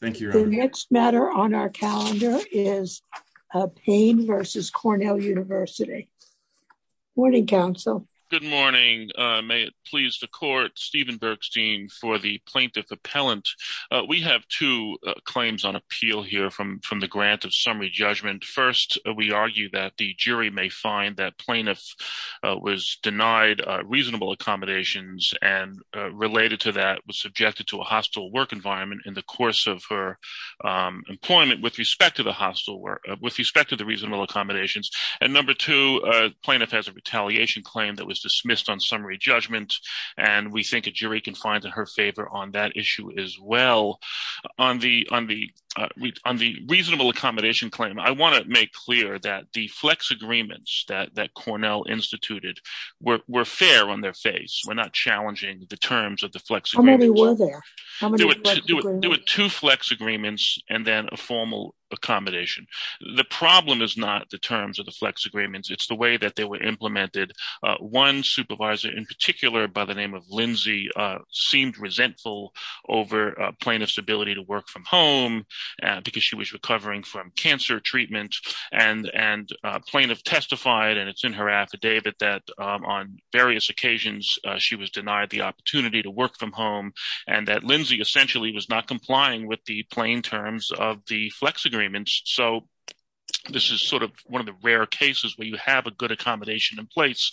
Thank you. The next matter on our calendar is Payne v. Cornell University. Morning, counsel. Good morning. May it please the court, Stephen Bergstein for the plaintiff appellant. We have two claims on appeal here from the grant of summary judgment. First, we argue that the jury may find that plaintiff was denied reasonable accommodations and related to a hostile work environment in the course of her employment with respect to the reasonable accommodations. Number two, plaintiff has a retaliation claim that was dismissed on summary judgment. We think a jury can find her favor on that issue as well. On the reasonable accommodation claim, I want to make clear that the flex agreements that Cornell instituted were fair on their face. We're not challenging the terms of the flex agreements. How many were there? How many flex agreements? There were two flex agreements and then a formal accommodation. The problem is not the terms of the flex agreements. It's the way that they were implemented. One supervisor in particular, by the name of Lindsay, seemed resentful over plaintiff's ability to work from home because she was recovering from cancer treatment. And plaintiff testified, and it's in her affidavit, that on various occasions, she was denied the opportunity to work from home and that Lindsay essentially was not complying with the plain terms of the flex agreements. This is one of the rare cases where you have a good accommodation in place,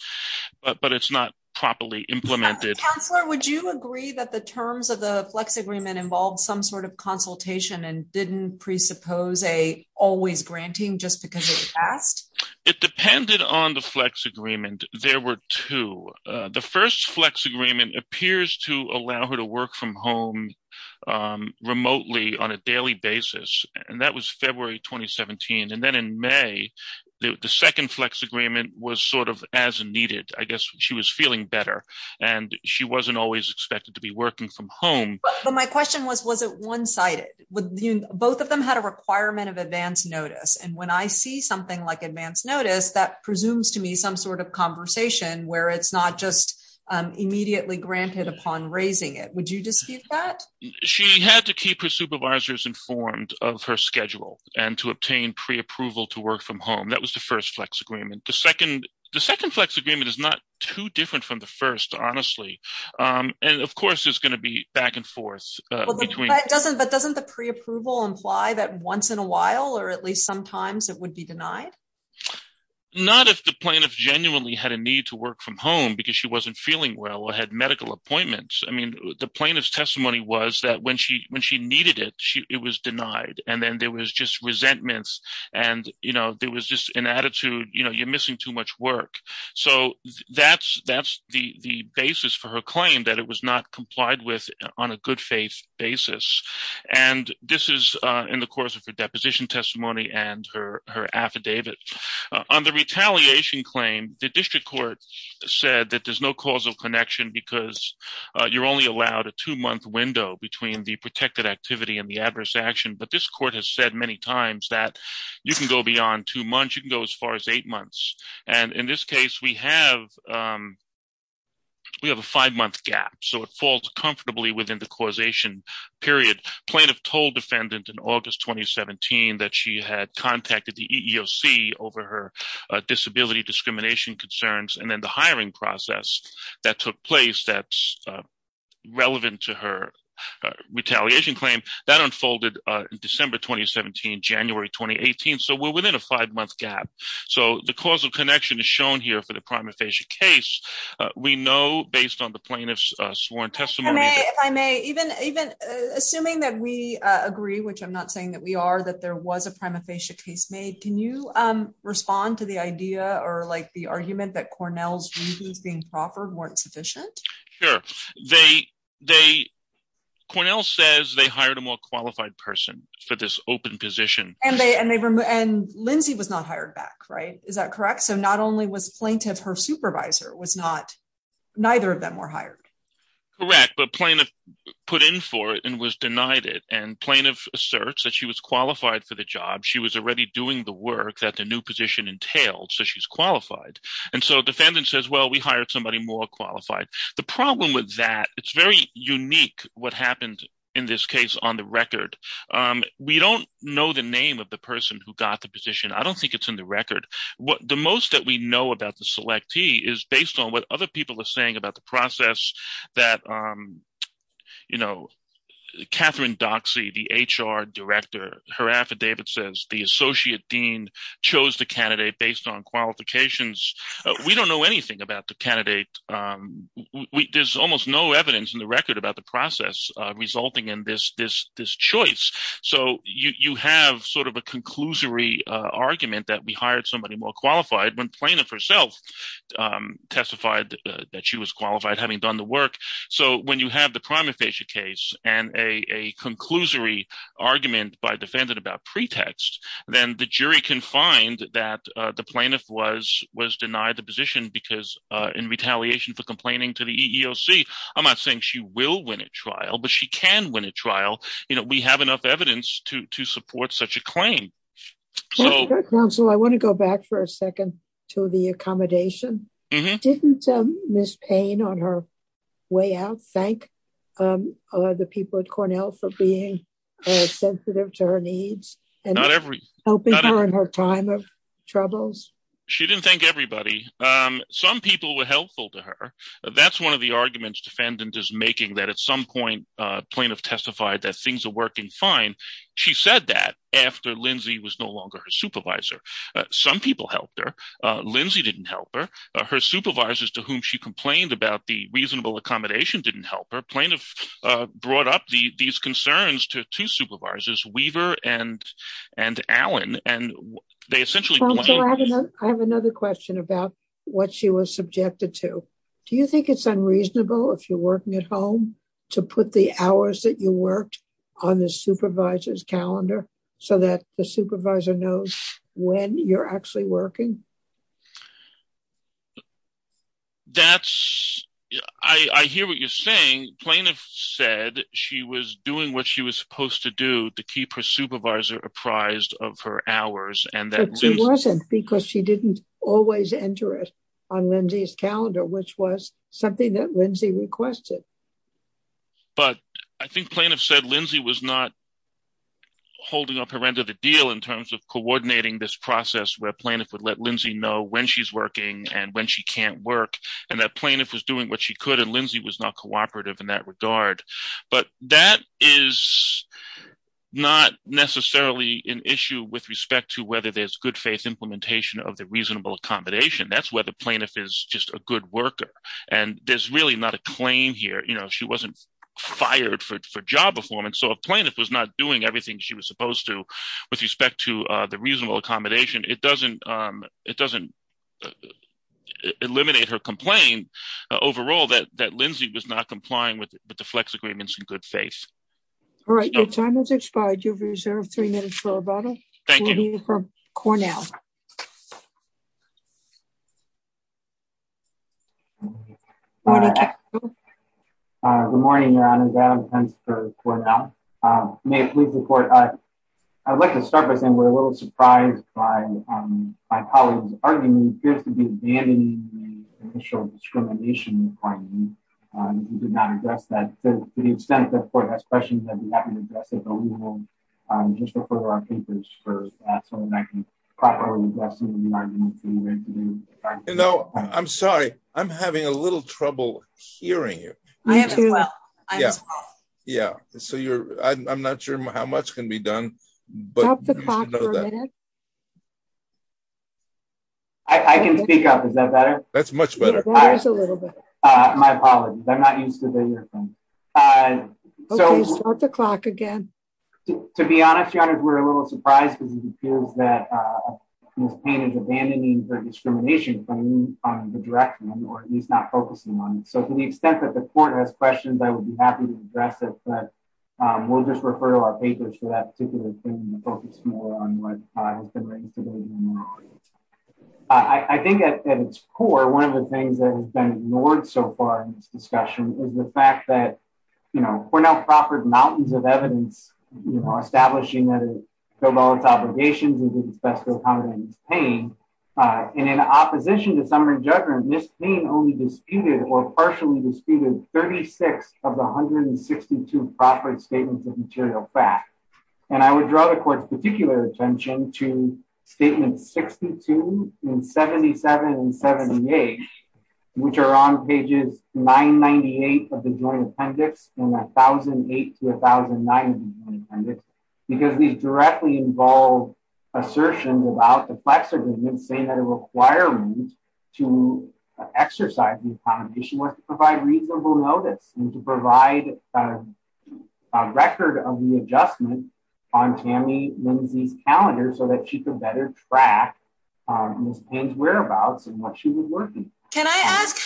but it's not properly implemented. Counselor, would you agree that the terms of the flex agreement involved some sort of consultation and didn't presuppose a always granting just because it passed? It depended on the flex agreement. There were two. The first flex agreement appears to allow her to work from home remotely on a daily basis. And that was February 2017. And then in May, the second flex agreement was sort of as needed. I guess she was feeling better and she wasn't always expected to be working from home. But my question was, was it one-sided? Both of them had a requirement of advanced notice. And I see something like advanced notice, that presumes to me some sort of conversation where it's not just immediately granted upon raising it. Would you dispute that? She had to keep her supervisors informed of her schedule and to obtain pre-approval to work from home. That was the first flex agreement. The second flex agreement is not too different from the first, honestly. And of course, there's going to be back and forth. But doesn't the pre-approval imply that once in a while or at least sometimes it would be denied? Not if the plaintiff genuinely had a need to work from home because she wasn't feeling well or had medical appointments. The plaintiff's testimony was that when she needed it, it was denied. And then there was just resentments. And there was just an attitude, you're missing too much work. So that's the basis for her claim, that it was not complied with on a good faith basis. And this is in the course of her deposition testimony and her affidavit. On the retaliation claim, the district court said that there's no causal connection because you're only allowed a two-month window between the protected activity and the adverse action. But this court has said many times that you can go beyond two months, you can go as far as eight months. And in this case, we have a five-month gap. So it falls comfortably within the causation period. Plaintiff told defendant in August 2017 that she had contacted the EEOC over her disability discrimination concerns. And then the hiring process that took place that's relevant to her retaliation claim, that unfolded in December 2017, January 2018. So we're within a five-month gap. So the causal connection is shown here for the prima facie case. We know based on the plaintiff's sworn testimony- If I may, even assuming that we agree, which I'm not saying that we are, that there was a prima facie case made, can you respond to the idea or the argument that Cornell's hired a more qualified person for this open position? And Lindsay was not hired back, right? Is that correct? So not only was plaintiff, her supervisor was not, neither of them were hired. Correct. But plaintiff put in for it and was denied it. And plaintiff asserts that she was qualified for the job. She was already doing the work that the new position entailed. So she's qualified. And so defendant says, well, we hired somebody more qualified. The problem with that, it's very unique what happened in this case on the record. We don't know the name of the person who got the position. I don't think it's in the record. What the most that we know about the selectee is based on what other people are saying about the process that Catherine Doxey, the HR director, her affidavit says the associate dean chose the candidate based on qualifications. We don't know anything about the candidate There's almost no evidence in the record about the process resulting in this choice. So you have sort of a conclusory argument that we hired somebody more qualified when plaintiff herself testified that she was qualified having done the work. So when you have the prima facie case and a conclusory argument by defendant about pretext, then the jury can find that the plaintiff was denied the position because in retaliation for complaining to the EEOC, I'm not saying she will win a trial, but she can win a trial. We have enough evidence to support such a claim. I want to go back for a second to the accommodation. Didn't Ms. Payne on her way out thank the people at Cornell for being sensitive to her needs and helping her in her time of troubles? She didn't thank everybody. Some people were helpful to her. That's one of the arguments defendant is making that at some point plaintiff testified that things are working fine. She said that after Lindsay was no longer her supervisor. Some people helped her. Lindsay didn't help her. Her supervisors to whom she complained about the reasonable accommodation didn't help her. Plaintiff brought up these concerns to two supervisors, Weaver and Allen, and they essentially... I have another question about what she was subjected to. Do you think it's unreasonable if you're working at home to put the hours that you worked on the supervisor's calendar so that the supervisor knows when you're actually working? That's... I hear what you're saying. Plaintiff said she was doing what she was supposed to do to keep her supervisor apprised of her hours. She wasn't because she didn't always enter it on Lindsay's calendar, which was something that Lindsay requested. I think plaintiff said Lindsay was not holding up her end of the deal in terms of coordinating this process where plaintiff would let Lindsay know when she's working and when she can't work and that plaintiff was doing what she could and Lindsay was not cooperative in that regard. But that is not necessarily an issue with respect to whether there's good faith implementation of the reasonable accommodation. That's where the plaintiff is just a good worker and there's really not a claim here. She wasn't fired for job performance, so if plaintiff was not doing everything she was supposed to with respect to the reasonable accommodation, it doesn't eliminate her complaint overall that Lindsay was not complying with the flex agreements and good faith. All right, your time has expired. You've reserved three minutes for rebuttal. Thank you. Good morning, Your Honor. Adam Pence for Cornell. May I please report? I'd like to start by saying a little surprised by my colleague's argument. He appears to be abandoning the official discrimination requirement. He did not address that. To the extent that the court has questions, I'd be happy to address it, but we will just refer to our papers first so that I can properly address the argument. I'm sorry, I'm having a little trouble hearing you. I am too. I'm not sure how much can be done. Stop the clock for a minute. I can speak up. Is that better? That's much better. My apologies. I'm not used to the earphones. Okay, start the clock again. To be honest, Your Honor, we're a little surprised because it appears that Ms. Payne is abandoning her discrimination claim on the directly or at least not focusing on it. To the extent that the court has questions, I would be happy to address it, but we'll just refer to our papers for that particular thing to focus more on what has been written today. I think at its core, one of the things that has been ignored so far in this discussion is the fact that Cornell proffered mountains of evidence establishing that it fulfilled all its obligations and did its best to accommodate Ms. Payne. In opposition to summary judgment, Ms. Payne only disputed or partially disputed 36 of the 162 proffered statements of material fact. And I would draw the court's particular attention to statements 62 and 77 and 78, which are on pages 998 of the joint appendix and 1008 to 1009 of the joint appendix because these directly involve assertions about the plexiglass saying that a requirement to exercise the accommodation was to provide reasonable notice and to provide a record of the adjustment on Tammy Lindsay's calendar so that she could better track Ms. Payne's whereabouts and what she was working. Can I ask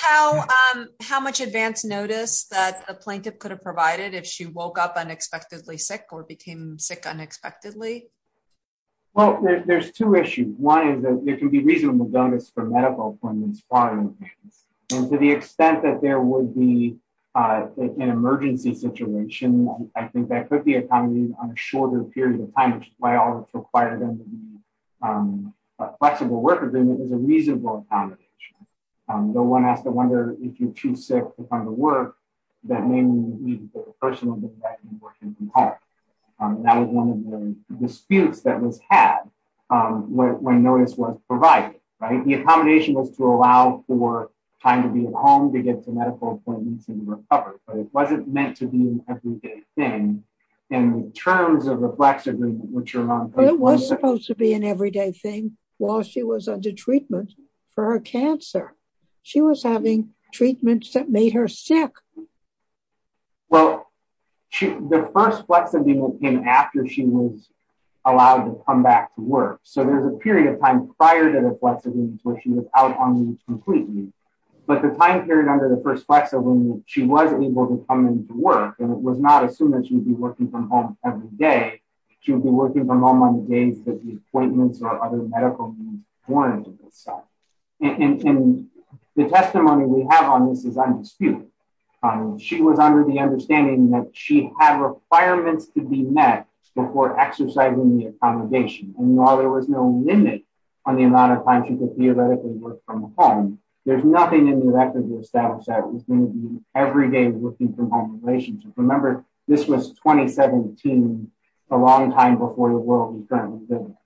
how much advance notice that a plaintiff could have provided if she woke up unexpectedly sick or became sick unexpectedly? Well, there's two issues. One is that there can be reasonable notice for medical appointments for Ms. Payne. And to the extent that there would be an emergency situation, I think that could be accommodated on a shorter period of time, which is why I always require them to be a flexible work agreement is a reasonable accommodation. No one has to wonder if you're too sick to come to work. That may mean that the person will be working from home. That was one of the disputes that was had when notice was provided, right? The accommodation was to allow for time to be at home to get to medical appointments and recover, but it wasn't meant to be an everyday thing in terms of a flexible agreement, which was supposed to be an everyday thing while she was under treatment for her cancer. She was having treatments that made her sick. Well, the first flexibility came after she was allowed to come back to work. So there's a period of time prior to the flexibility where she was out on completely, but the time period under the first flexibility, she was able to come into work and it was not that she would be working from home every day. She would be working from home on the days that the appointments or other medical needs weren't. And the testimony we have on this is undisputed. She was under the understanding that she had requirements to be met before exercising the accommodation. And while there was no limit on the amount of time she could theoretically work from home, there's nothing in the record to establish that it was going to be every day working from home relationship. Remember this was 2017, a long time before the world we currently live in.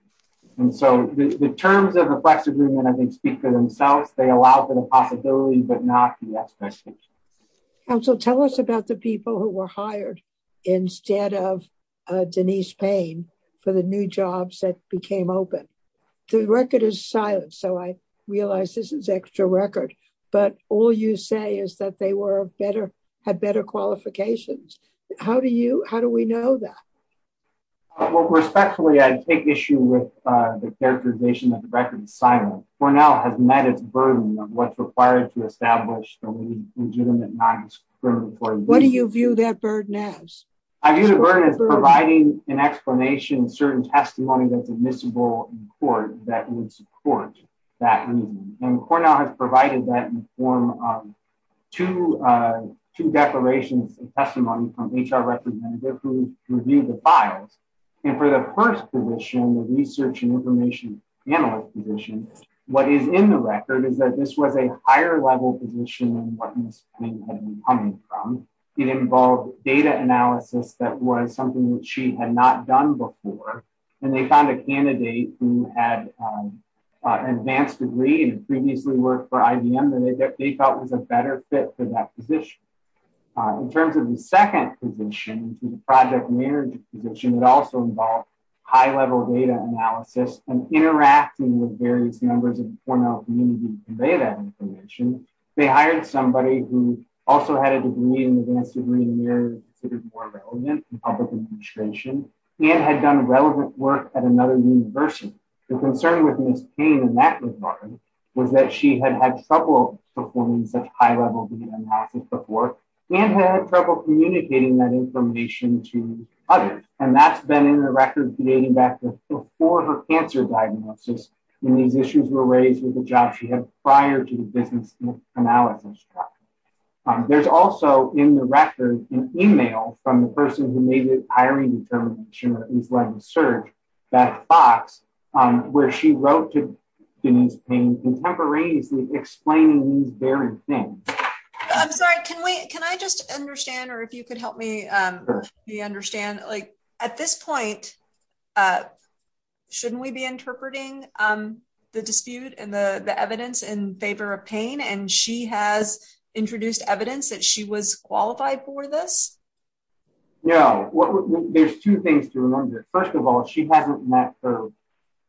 And so the terms of the flexible agreement, I think speak for themselves. They allow for the possibility, but not the expectation. Counsel, tell us about the people who were hired instead of Denise Payne for the new jobs that became open. The record is silent. So I realize this is extra record, but all you say is that they had better qualifications. How do we know that? Well, respectfully, I take issue with the characterization that the record is silent. Cornell has met its burden of what's required to establish the legitimate non-discriminatory What do you view that burden as? I view the burden as providing an explanation, certain testimony that's admissible in court that would support that reason. And Cornell has provided that in the form of two declarations of testimony from HR representative who reviewed the files. And for the first position, the research and information analyst position, what is in the record is that this was a higher level position than what Ms. Payne had been coming from. It involved data analysis that was something that had not done before. And they found a candidate who had an advanced degree and previously worked for IBM that they thought was a better fit for that position. In terms of the second position, the project manager position, it also involved high level data analysis and interacting with various members of Cornell community to convey that information. They hired somebody who also had a degree, an advanced degree, considered more relevant in public administration and had done relevant work at another university. The concern with Ms. Payne in that regard was that she had had trouble performing such high level data analysis before and had trouble communicating that information to others. And that's been in the record dating back to before her cancer diagnosis when these issues were raised with the job she had prior to the business analysis. There's also in the record an email from the person who made the hiring determination or information search, Beth Fox, where she wrote to Ms. Payne contemporaneously explaining these very things. I'm sorry, can we, can I just understand or if you could help me understand, like at this point, shouldn't we be interpreting the dispute and the evidence in favor of Payne and she has introduced evidence that she was qualified for this? Yeah, there's two things to remember. First of all, she hasn't met her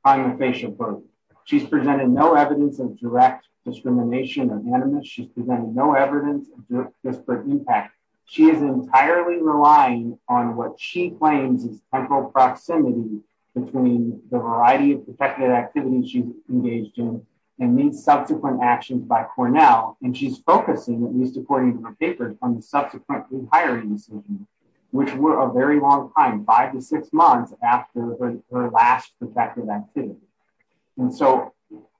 on the patient book. She's presented no evidence of direct discrimination or animus. She's presented no evidence of disparate impact. She is entirely relying on what she claims is temporal proximity between the variety of protected activities she's engaged in and these subsequent actions by Cornell. And she's focusing, at least according to her paper, on the subsequent re-hiring decision, which were a very long time, five to six months after her last protective activity. And so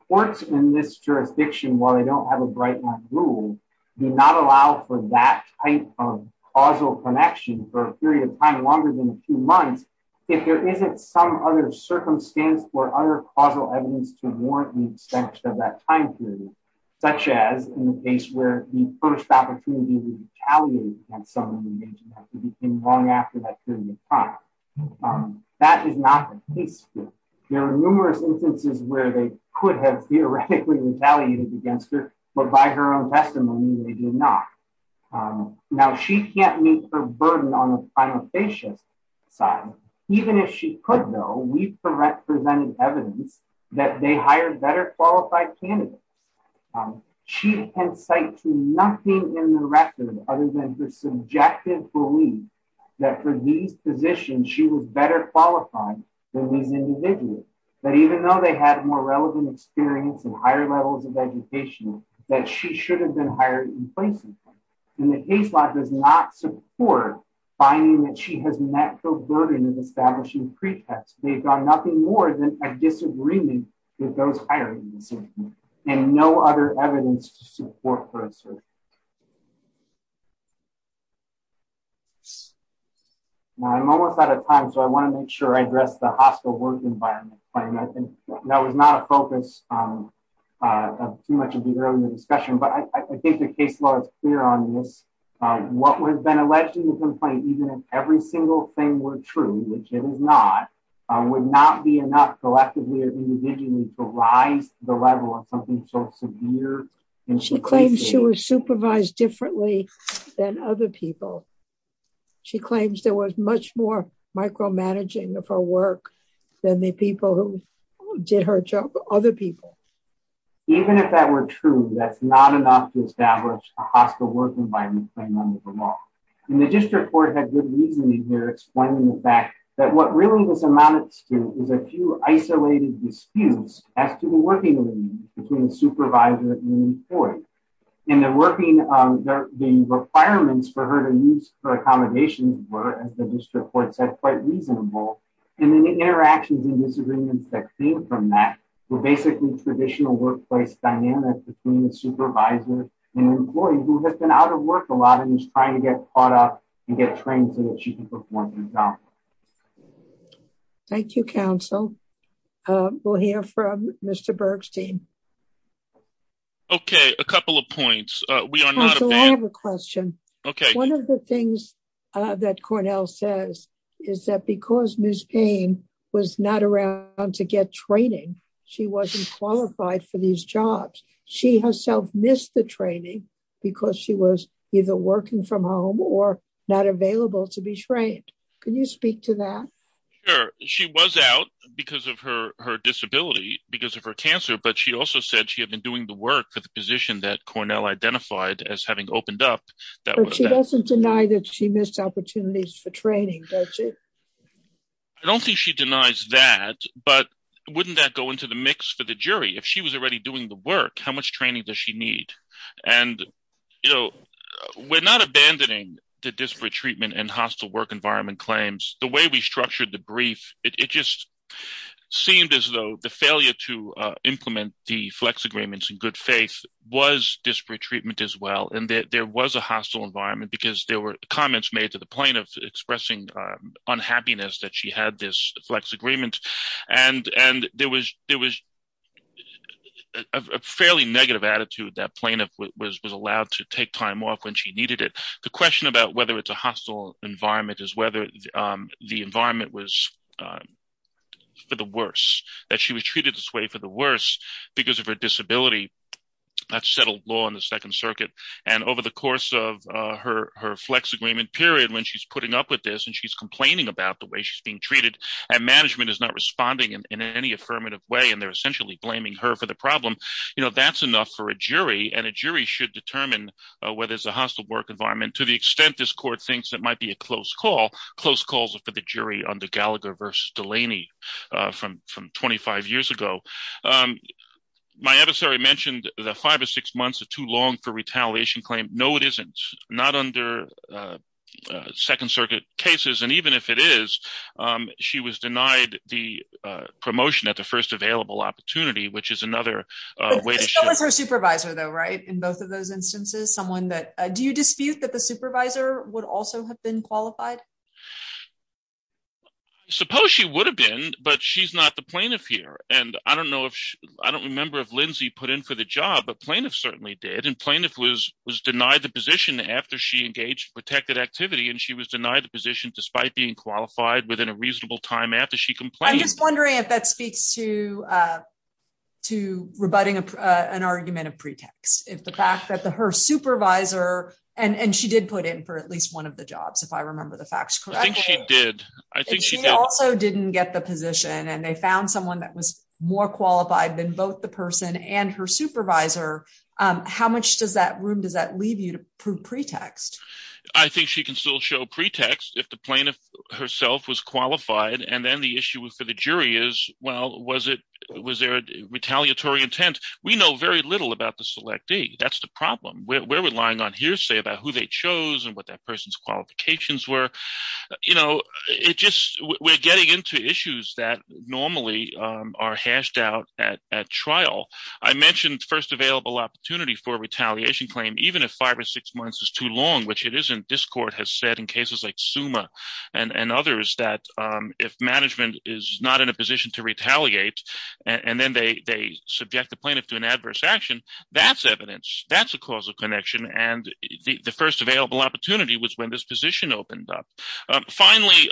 courts in this jurisdiction, while they don't have a bright line rule, do not allow for that type of causal connection for a period of time longer than a few months, if there isn't some other circumstance or other causal evidence to warrant the extension of that time period, such as in the case where the first opportunity to retaliate against someone engaged in that could be long after that period of time. That is not the case here. There are numerous instances where they could have theoretically retaliated against her, but by her own testimony they did not. Now, she can't meet her burden on the primifacious side. Even if she could, though, we've presented evidence that they hired better qualified candidates. She can cite to nothing in the record other than her subjective belief that for these positions she was better qualified than these individuals, that even though they had more relevant experience and higher levels of and the case law does not support finding that she has met the burden of establishing pretext. They've done nothing more than a disagreement with those hiring and no other evidence to support her. Now, I'm almost out of time, so I want to make sure I address the hospital work environment. I think that was not a focus of too much of the earlier discussion, but I think the case law is on this. What would have been alleged in the complaint, even if every single thing were true, which it is not, would not be enough collectively or individually to rise the level of something so severe. She claims she was supervised differently than other people. She claims there was much more micromanaging of her work than the people who did her job, other people. Even if that were true, that's not enough to establish a hospital work environment. And the district court had good reasoning here explaining the fact that what really this amounts to is a few isolated disputes as to the working relationship between the supervisor and the employee. And the requirements for her to use her accommodations were, as the district court said, quite reasonable. And then the interactions and disagreements that came from that were basically traditional workplace dynamics between the supervisor and the employee, who has been out of work a lot and is trying to get caught up and get trained so that she can perform her job. Thank you, counsel. We'll hear from Mr. Bergstein. Okay, a couple of points. We are not a fan. I have a question. Okay. One of the things that Cornell says is that because Ms. Payne was not around to get training, she wasn't qualified for these jobs. She herself missed the training because she was either working from home or not available to be trained. Can you speak to that? Sure. She was out because of her disability, because of her cancer, but she also said she had been doing the work for the position that Cornell identified as having opened up. But she doesn't deny that she missed opportunities for training, does she? I don't think she denies that, but wouldn't that go into the mix for the jury? If she was already doing the work, how much training does she need? And we're not abandoning the disparate treatment and hostile work environment claims. The way we structured the brief, it just seemed as though the failure to implement the flex agreements in good faith was disparate treatment as well, and there was a hostile environment because there were comments made to the point of expressing unhappiness that she had this flex agreement. And there was a fairly negative attitude that plaintiff was allowed to take time off when she needed it. The question about whether it's a hostile environment is whether the environment was for the worse, that she was treated this way for the worse because of her disability. That's settled law in the Second Circuit. And over the course of her flex agreement period, when she's putting up with this and she's complaining about the way she's being treated and management is not responding in any affirmative way, and they're essentially blaming her for the problem, that's enough for a jury. And a jury should determine whether it's a hostile work environment to the extent this court thinks that might be a close call. Close calls are for the jury under Gallagher versus Delaney from 25 years ago. My adversary mentioned the five or six months are too long for retaliation claim. No, it isn't. Not under Second Circuit cases. And even if it is, she was denied the promotion at the first available opportunity, which is another way to show... But she was her supervisor though, right? In both of those instances, someone that... Do you dispute that the supervisor would also have been qualified? Suppose she would have been, but she's not the plaintiff here. And I don't remember if plaintiff certainly did and plaintiff was denied the position after she engaged protected activity and she was denied the position despite being qualified within a reasonable time after she complained. I'm just wondering if that speaks to rebutting an argument of pretext. If the fact that her supervisor... And she did put in for at least one of the jobs, if I remember the facts correctly. I think she did. I think she did. And she also didn't get the position and they found someone that was more qualified than both the person and her supervisor. How much room does that leave you to prove pretext? I think she can still show pretext if the plaintiff herself was qualified. And then the issue for the jury is, well, was there a retaliatory intent? We know very little about the selectee. That's the problem. We're relying on hearsay about who they chose and that person's qualifications were. We're getting into issues that normally are hashed out at trial. I mentioned first available opportunity for retaliation claim, even if five or six months is too long, which it isn't. This court has said in cases like SUMA and others that if management is not in a position to retaliate and then they subject the plaintiff to an adverse action, that's evidence. That's a causal connection. And the first available opportunity was when this position opened up. Finally,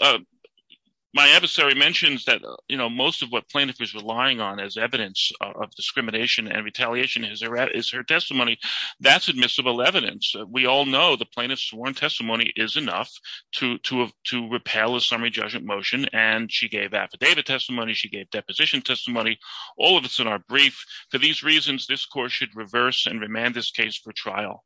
my adversary mentions that most of what plaintiff is relying on as evidence of discrimination and retaliation is her testimony. That's admissible evidence. We all know the plaintiff's sworn testimony is enough to repel a summary judgment motion. And she gave affidavit testimony. She gave deposition testimony. All of us in our brief, to these reasons, this court should reverse and remand this case for trial.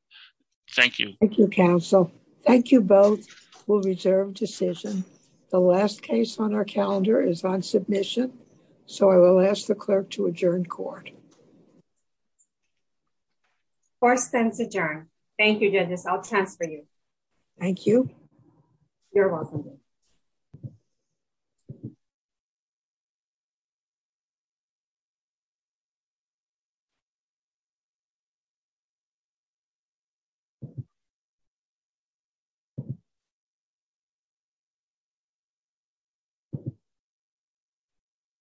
Thank you. Thank you, counsel. Thank you both. We'll reserve decision. The last case on our calendar is on submission. So I will ask the clerk to adjourn court. Court stands adjourned. Thank you, judges. I'll transfer you. Thank you. You're welcome. Thank you.